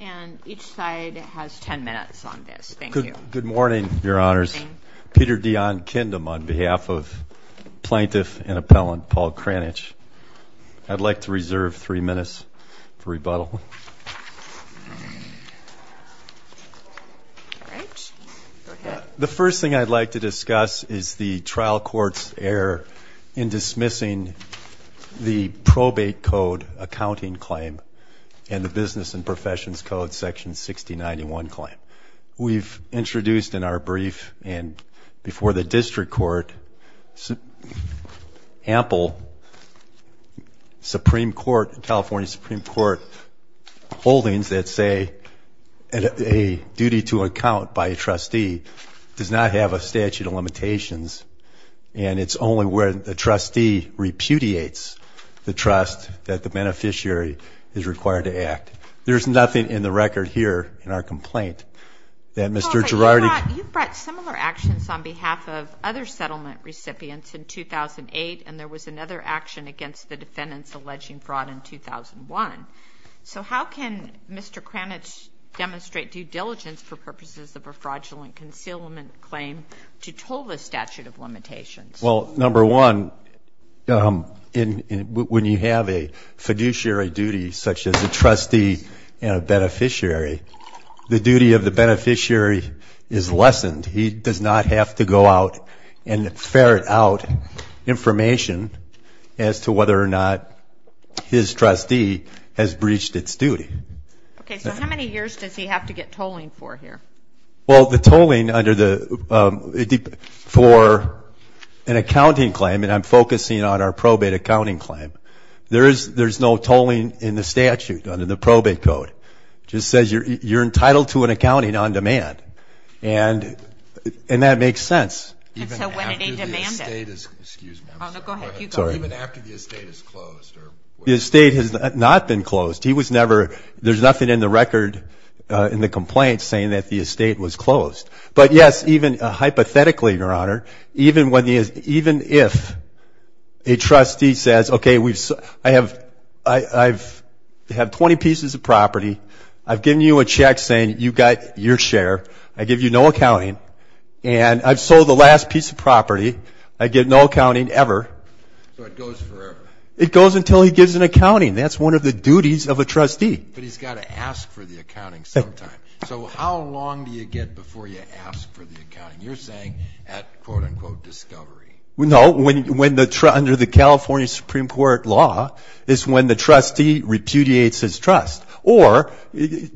And each side has 10 minutes on this. Thank you. Good morning, Your Honors. Peter Dionne Kindem on behalf of plaintiff and appellant Paul Kranich. I'd like to reserve three minutes for rebuttal. The first thing I'd like to discuss is the trial court's error in dismissing the probate code accounting claim and the business and professions code section 6091 claim. We've introduced in our brief and before the district court ample California Supreme Court holdings that say a duty to account by a trustee does not have a statute of limitations. And it's only where the trustee repudiates the trust that the beneficiary is required to act. There's nothing in the record here in our complaint that Mr. Girardi. You brought similar actions on behalf of other settlement recipients in 2008, and there was another action against the defendants alleging fraud in 2001. So how can Mr. Kranich demonstrate due diligence for purposes of a fraudulent concealment claim to toll the statute of limitations? Well, number one, when you have a fiduciary duty such as a trustee and a beneficiary, the duty of the beneficiary is lessened. He does not have to go out and ferret out information as to whether or not his trustee has breached its duty. OK, so how many years does he have to get tolling for here? Well, the tolling for an accounting claim, and I'm focusing on our probate accounting claim, there's no tolling in the statute under the probate code. It just says you're entitled to an accounting on demand. And that makes sense. And so when it a demanded. Even after the estate is closed. The estate has not been closed. There's nothing in the record in the complaint saying that the estate was closed. But yes, even hypothetically, Your Honor, even if a trustee says, OK, I have 20 pieces of property. I've given you a check saying you've got your share. I give you no accounting. And I've sold the last piece of property. I get no accounting ever. So it goes forever. It goes until he gives an accounting. That's one of the duties of a trustee. But he's got to ask for the accounting sometime. So how long do you get before you ask for the accounting? You're saying at, quote unquote, discovery. No, under the California Supreme Court law, it's when the trustee repudiates his trust. Or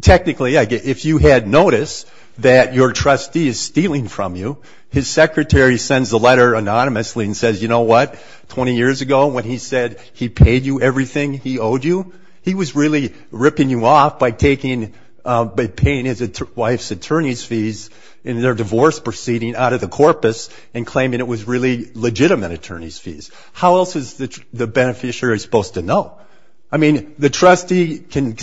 technically, if you had noticed that your trustee is stealing from you, his secretary sends a letter anonymously and says, you know what? 20 years ago when he said he paid you everything he owed he was really ripping you off by paying his wife's attorney's fees in their divorce proceeding out of the corpus and claiming it was really legitimate attorney's fees. How else is the beneficiary supposed to know? I mean, if the trustee can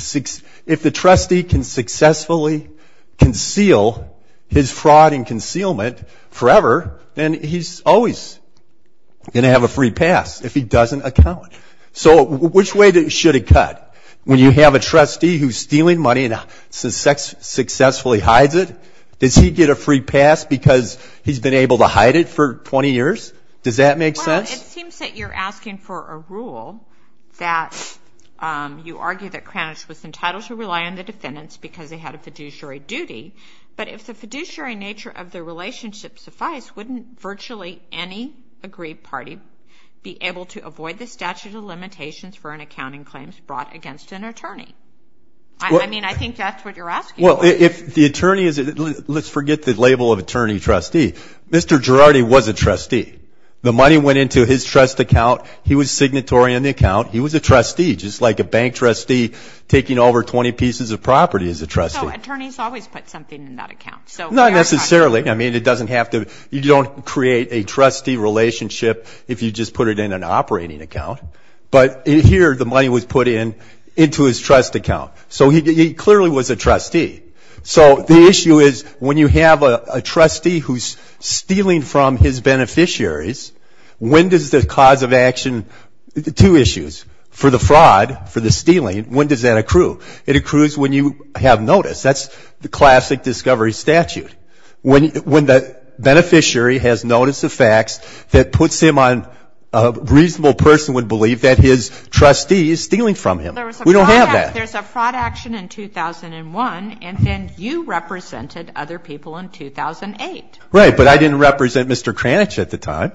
successfully conceal his fraud and concealment forever, then he's always going to have a free pass if he doesn't account. So which way should it cut? When you have a trustee who's stealing money and successfully hides it? Does he get a free pass because he's been able to hide it for 20 years? Does that make sense? Well, it seems that you're asking for a rule that you argue that Kranich was entitled to rely on the defendants because they had a fiduciary duty. But if the fiduciary nature of the relationship suffice, wouldn't virtually any agreed party be able to avoid the statute of limitations for an accounting claim brought against an attorney? I mean, I think that's what you're asking for. Let's forget the label of attorney-trustee. Mr. Girardi was a trustee. The money went into his trust account. He was signatory in the account. He was a trustee, just like a bank trustee taking over 20 pieces of property as a trustee. So attorneys always put something in that account. Not necessarily. I mean, you don't create a trustee relationship if you just put it in an operating account. But here, the money was put into his trust account. So he clearly was a trustee. So the issue is, when you have a trustee who's stealing from his beneficiaries, when does the cause of action, two issues, for the fraud, for the stealing, when does that accrue? It accrues when you have notice. That's the classic discovery statute. When the beneficiary has notice of facts that puts him on a reasonable person would believe that his trustee is stealing from him. We don't have that. There's a fraud action in 2001, and then you represented other people in 2008. Right, but I didn't represent Mr. Kranich at the time.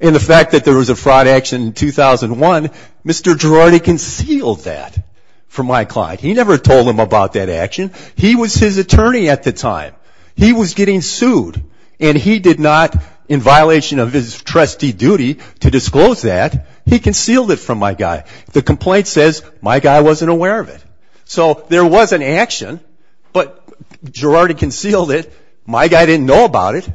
And the fact that there was a fraud action in 2001, Mr. Girardi concealed that from my client. He never told him about that action. He was his attorney at the time. He was getting sued, and he did not, in violation of his trustee duty, to disclose that. He concealed it from my guy. The complaint says my guy wasn't aware of it. So there was an action, but Girardi concealed it. My guy didn't know about it.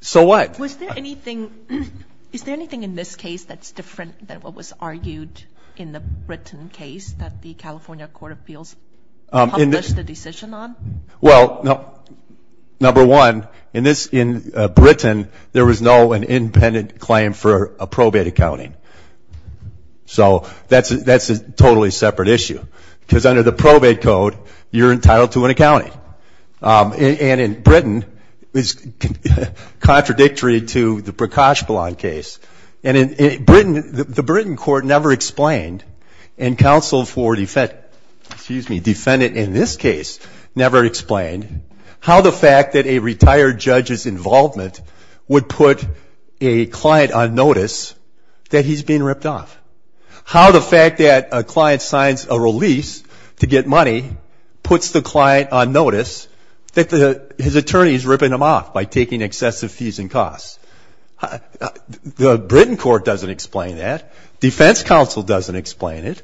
So what? Was there anything, is there anything in this case that's different than what was argued in the Britain case that the California Court of Appeals published the decision on? Well, number one, in Britain, there was no independent claim for a probate accounting. So that's a totally separate issue, because under the probate code, you're entitled to an accounting. And in Britain, it's contradictory to the Prakashpillan case. And in Britain, the Britain court never explained, and counsel for defendant in this case never explained, how the fact that a retired judge's involvement would put a client on notice that he's being ripped off. How the fact that a client signs a release to get money puts the client on notice that his attorney is ripping him off by taking excessive fees and costs. The Britain court doesn't explain that. Defense counsel doesn't explain it.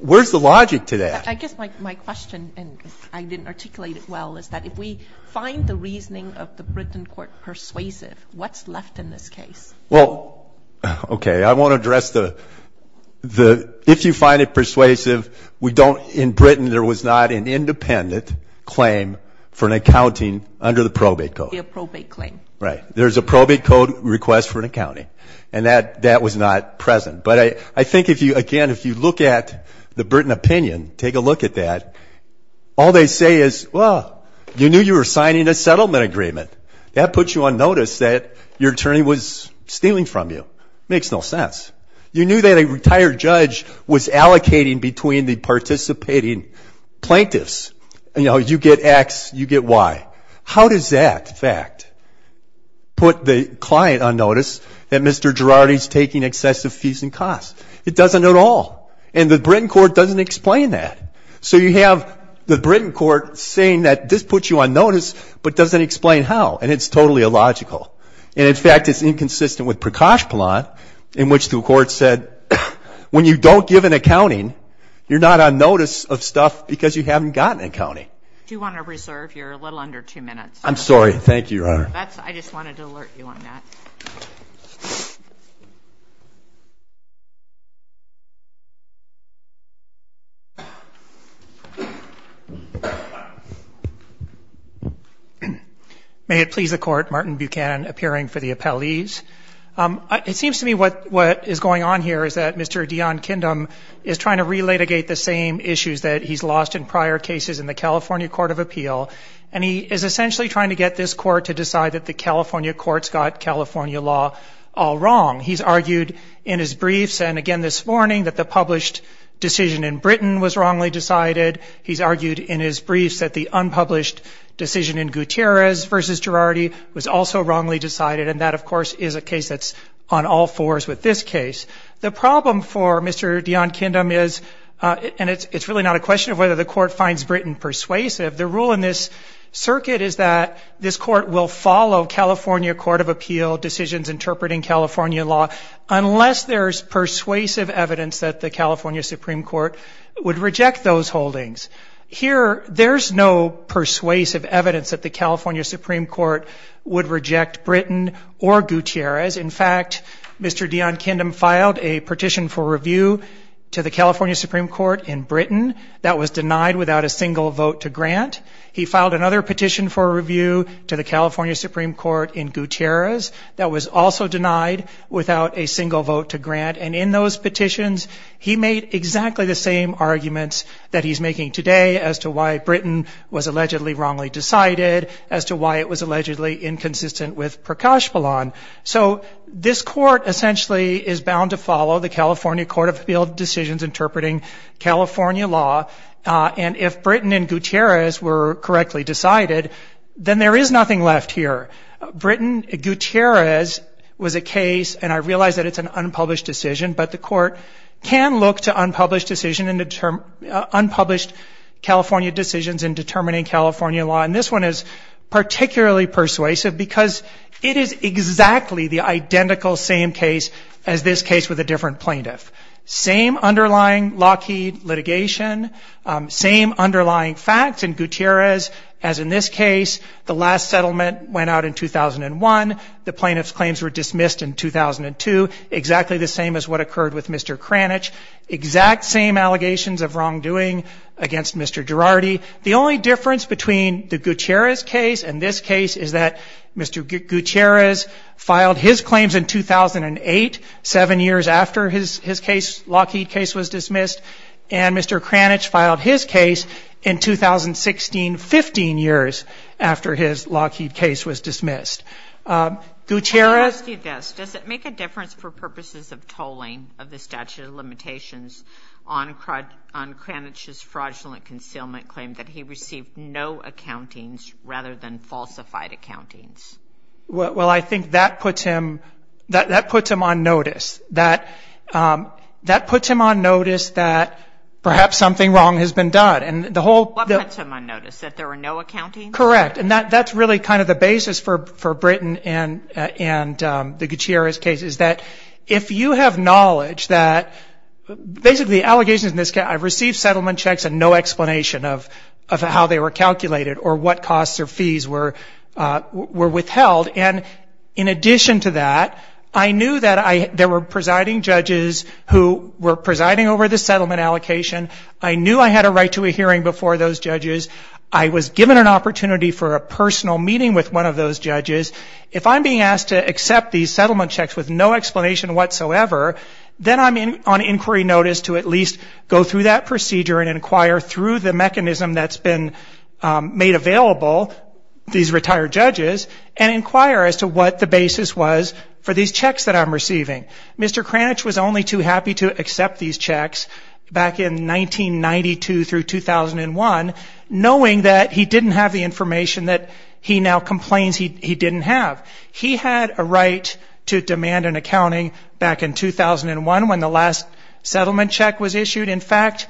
Where's the logic to that? I guess my question, and I didn't articulate it well, is that if we find the reasoning of the Britain court persuasive, what's left in this case? Well, OK. I won't address the if you find it persuasive, in Britain, there was not an independent claim for an accounting under the probate code. A probate claim. Right. There's a probate code request for an accounting. And that was not present. But I think, again, if you look at the Britain opinion, take a look at that, all they say is, well, you knew you were signing a settlement agreement. That puts you on notice that your attorney was stealing from you. Makes no sense. You knew that a retired judge was allocating between the participating plaintiffs. You know, you get x, you get y. How does that fact put the client on notice that Mr. Girardi's taking excessive fees and costs? It doesn't at all. And the Britain court doesn't explain that. So you have the Britain court saying that this puts you on notice, but doesn't explain how. And it's totally illogical. And in fact, it's inconsistent with Prakash Pillan, in which the court said, when you don't give an accounting, you're not on notice of stuff because you haven't gotten an accounting. Do you want to reserve your little under two minutes? I'm sorry. Thank you, Your Honor. I just wanted to alert you on that. Thank you. May it please the court, Martin Buchanan appearing for the appellees. It seems to me what is going on here is that Mr. Dion Kindom is trying to re-litigate the same issues that he's lost in prior cases in the California Court of Appeal. And he is essentially trying to get this court to decide that the California courts got California law all wrong. He's argued in his briefs, and again this morning, that the published decision in Britain was wrongly decided. He's argued in his briefs that the unpublished decision in Gutierrez versus Girardi was also wrongly decided. And that, of course, is a case that's on all fours with this case. The problem for Mr. Dion Kindom is, and it's really not a question of whether the court finds Britain persuasive, the rule in this circuit is that this court will follow California Court of Appeal decisions interpreting California law unless there's persuasive evidence that the California Supreme Court would reject those holdings. Here, there's no persuasive evidence that the California Supreme Court would reject Britain or Gutierrez. In fact, Mr. Dion Kindom filed a petition for review to the California Supreme Court in Britain that was denied without a single vote to grant. He filed another petition for review to the California Supreme Court in Gutierrez that was also denied without a single vote to grant. And in those petitions, he made exactly the same arguments that he's making today as to why Britain was allegedly wrongly decided, as to why it was allegedly inconsistent with Prakashpillan. So this court essentially is bound to follow the California Court of Appeal decisions interpreting California law. And if Britain and Gutierrez were correctly decided, then there is nothing left here. Britain, Gutierrez was a case, and I realize that it's an unpublished decision, but the court can look to unpublished decision and unpublished California decisions in determining California law. And this one is particularly persuasive because it is exactly the identical same case as this case with a different plaintiff. Same underlying Lockheed litigation, same underlying facts in Gutierrez as in this case. The last settlement went out in 2001. The plaintiff's claims were dismissed in 2002, exactly the same as what occurred with Mr. Kranich. Exact same allegations of wrongdoing against Mr. Girardi. The only difference between the Gutierrez case and this case is that Mr. Gutierrez filed his claims in 2008, seven years after his case, Lockheed case, was dismissed. And Mr. Kranich filed his case in 2016, 15 years after his Lockheed case was dismissed. Gutierrez- Can I ask you this? Does it make a difference for purposes of tolling of the statute of limitations on Kranich's fraudulent concealment claim that he received no accountings rather than falsified accountings? Well, I think that puts him on notice. That puts him on notice that perhaps something wrong has been done. And the whole- That there were no accountings? Correct. And that's really kind of the basis for Britain and the Gutierrez case is that if you have knowledge that basically the allegations in this case, I've received settlement checks and no explanation of how they were calculated or what costs or fees were withheld. And in addition to that, I knew that there were presiding judges who were presiding over the settlement allocation. I knew I had a right to a hearing before those judges. I was given an opportunity for a personal meeting with one of those judges. If I'm being asked to accept these settlement checks with no explanation whatsoever, then I'm on inquiry notice to at least go through that procedure and inquire through the mechanism that's been made available, these retired judges, and inquire as to what the basis was for these checks that I'm receiving. Mr. Kranich was only too happy to accept these checks back in 1992 through 2001. Knowing that he didn't have the information that he now complains he didn't have. He had a right to demand an accounting back in 2001 when the last settlement check was issued. In fact,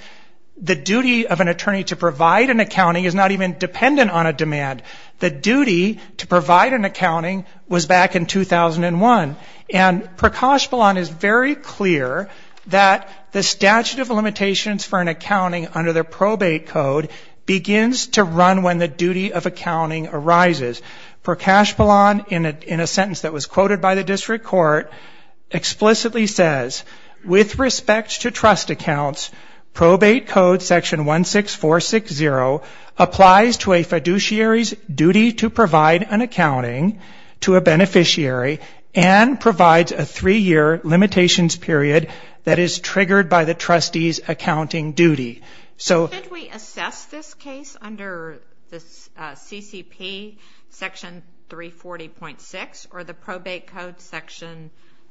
the duty of an attorney to provide an accounting is not even dependent on a demand. The duty to provide an accounting was back in 2001. And Prakash Balan is very clear that the statute of limitations for an accounting under the probate code begins to run when the duty of accounting arises. Prakash Balan, in a sentence that was quoted by the district court, explicitly says, with respect to trust accounts, probate code section 16460 applies to a fiduciary's duty to provide an accounting to a beneficiary and provides a three-year limitations period that is triggered by the trustee's accounting duty. So- Could we assess this case under the CCP section 340.6 or the probate code section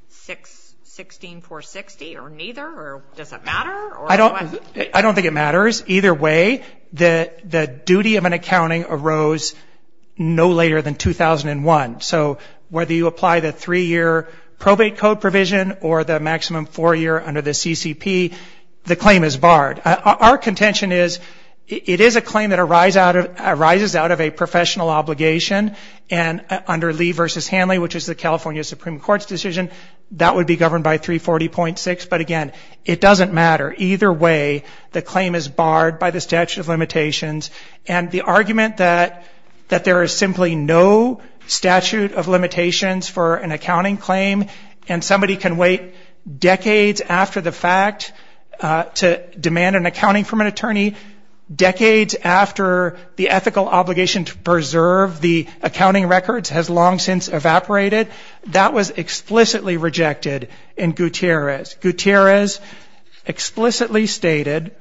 16460 or neither or does it matter? I don't think it matters. Either way, the duty of an accounting arose no later than 2001. So whether you apply the three-year probate code provision or the maximum four-year under the CCP, the claim is barred. Our contention is it is a claim that arises out of a professional obligation and under Lee versus Hanley, which is the California Supreme Court's decision, that would be governed by 340.6. But again, it doesn't matter. Either way, the claim is barred by the statute of limitations. And the argument that there is simply no statute of limitations for an accounting claim and somebody can wait decades after the fact to demand an accounting from an attorney, decades after the ethical obligation to preserve the accounting records has long since evaporated, that was explicitly rejected in Gutierrez. Gutierrez explicitly stated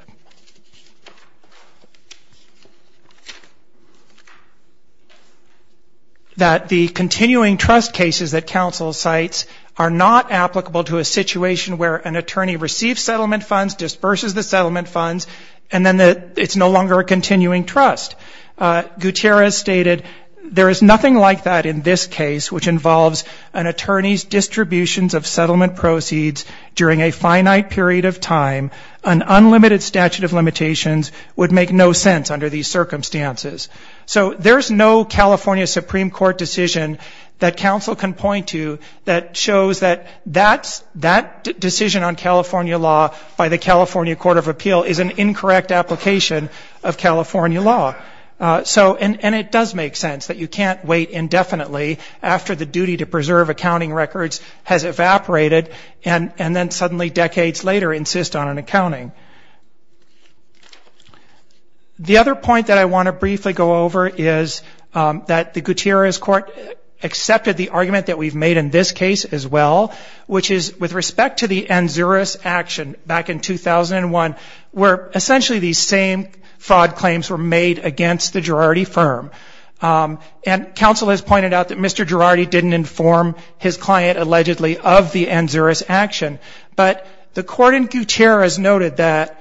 that the continuing trust cases that counsel cites are not applicable to a situation where an attorney receives settlement funds, disperses the settlement funds, and then it's no longer a continuing trust. Gutierrez stated, there is nothing like that in this case, which involves an attorney's distributions of settlement proceeds during a finite period of time, an unlimited statute of limitations would make no sense under these circumstances. So there's no California Supreme Court decision that counsel can point to that shows that that decision on California law by the California Court of Appeal is an incorrect application of California law. So, and it does make sense that you can't wait indefinitely after the duty to preserve accounting records has evaporated and then suddenly decades later insist on an accounting. The other point that I want to briefly go over is that the Gutierrez court accepted the argument that we've made in this case as well, which is with respect to the ANZURIS action back in 2001, where essentially these same fraud claims were made against the Girardi firm. And counsel has pointed out that Mr. Girardi didn't inform his client allegedly of the ANZURIS action, but the court in Gutierrez noted that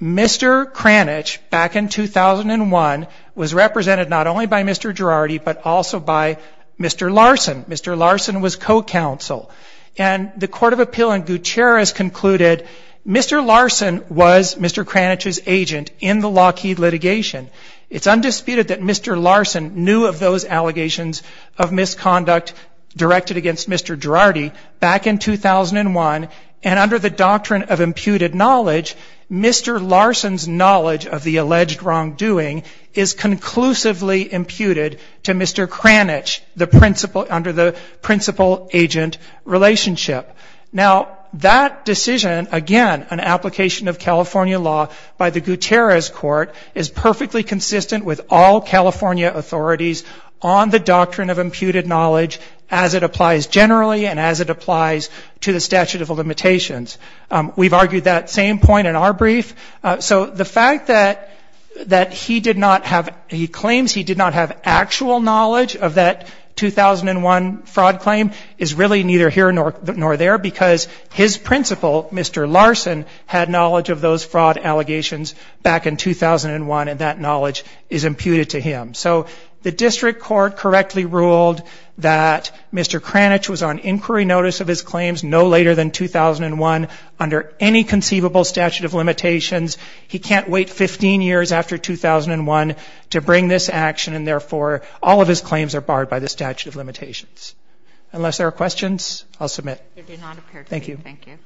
Mr. Kranich back in 2001 was represented not only by Mr. Girardi, but also by Mr. Larson. Mr. Larson was co-counsel. And the Court of Appeal in Gutierrez concluded Mr. Larson was Mr. Kranich's agent in the Lockheed litigation. It's undisputed that Mr. Larson knew of those allegations of misconduct directed against Mr. Girardi back in 2001, and under the doctrine of imputed knowledge, Mr. Larson's knowledge of the alleged wrongdoing is conclusively imputed to Mr. Kranich under the principal-agent relationship. Now, that decision, again, an application of California law by the Gutierrez court is perfectly consistent with all California authorities on the doctrine of imputed knowledge as it applies generally, and as it applies to the statute of limitations. We've argued that same point in our brief. So the fact that he claims he did not have actual knowledge of that 2001 fraud claim is really neither here nor there, because his principal, Mr. Larson, had knowledge of those fraud allegations back in 2001, and that knowledge is imputed to him. So the district court correctly ruled that Mr. Kranich was on inquiry notice of his claims no later than 2001 under any conceivable statute of limitations. He can't wait 15 years after 2001 to bring this action, and therefore, all of his claims are barred by the statute of limitations. Unless there are questions, I'll submit. They did not appear to me. Thank you. Thank you.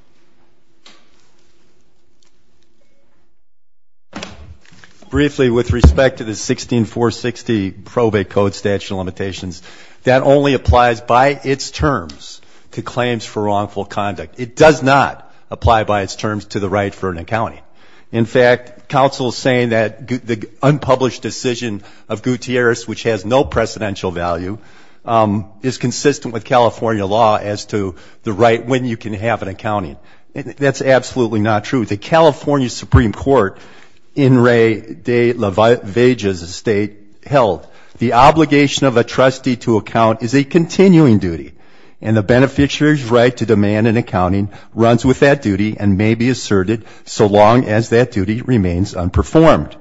Briefly, with respect to the 16460 probate code statute of limitations, that only applies by its terms to claims for wrongful conduct. It does not apply by its terms to the right for an accounting. In fact, counsel is saying that the unpublished decision of Gutierrez, which has no precedential value, is consistent with California law as to the right when you can have an accounting. That's absolutely not true. The California Supreme Court, in Ray de la Vega's state, held, the obligation of a trustee to account is a continuing duty, and the beneficiary's right to demand an accounting runs with that duty and may be asserted so long as that duty remains unperformed.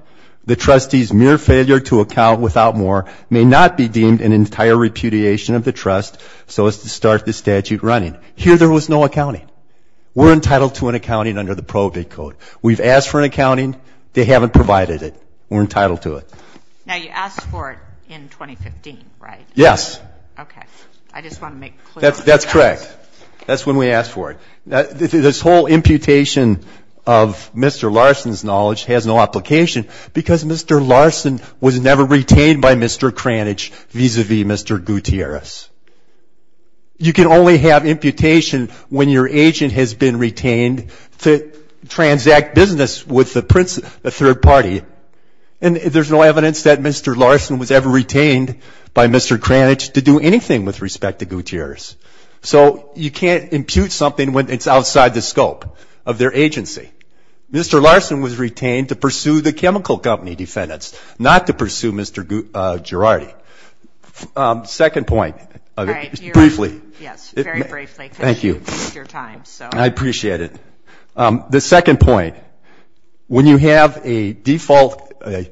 The trustee's mere failure to account without more may not be deemed an entire repudiation of the trust so as to start the statute running. Here, there was no accounting. We're entitled to an accounting under the probate code. We've asked for an accounting. They haven't provided it. We're entitled to it. Now, you asked for it in 2015, right? Yes. Okay, I just want to make clear. That's correct. That's when we asked for it. This whole imputation of Mr. Larson's knowledge has no application because Mr. Larson was never retained by Mr. Kranich vis-a-vis Mr. Gutierrez. You can only have imputation when your agent has been retained to transact business with a third party, and there's no evidence that Mr. Larson was ever retained by Mr. Kranich to do anything with respect to Gutierrez. So, you can't impute something when it's outside the scope of their agency. Mr. Larson was retained to pursue the chemical company defendants, not to pursue Mr. Girardi. Second point, briefly. Yes, very briefly. Thank you. Because you took your time. I appreciate it. The second point, when you have an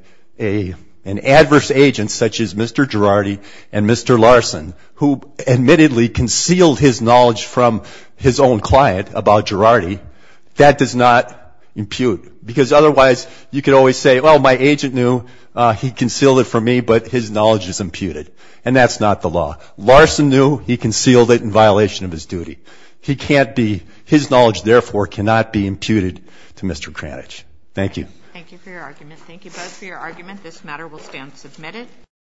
adverse agent such as Mr. Girardi and Mr. Larson, who admittedly concealed his knowledge from his own client about Girardi, that does not impute. Because otherwise, you could always say, well, my agent knew, he concealed it from me, but his knowledge is imputed. And that's not the law. Larson knew, he concealed it in violation of his duty. He can't be, his knowledge therefore cannot be imputed to Mr. Kranich. Thank you. Thank you for your argument. Thank you both for your argument. This matter will stand submitted.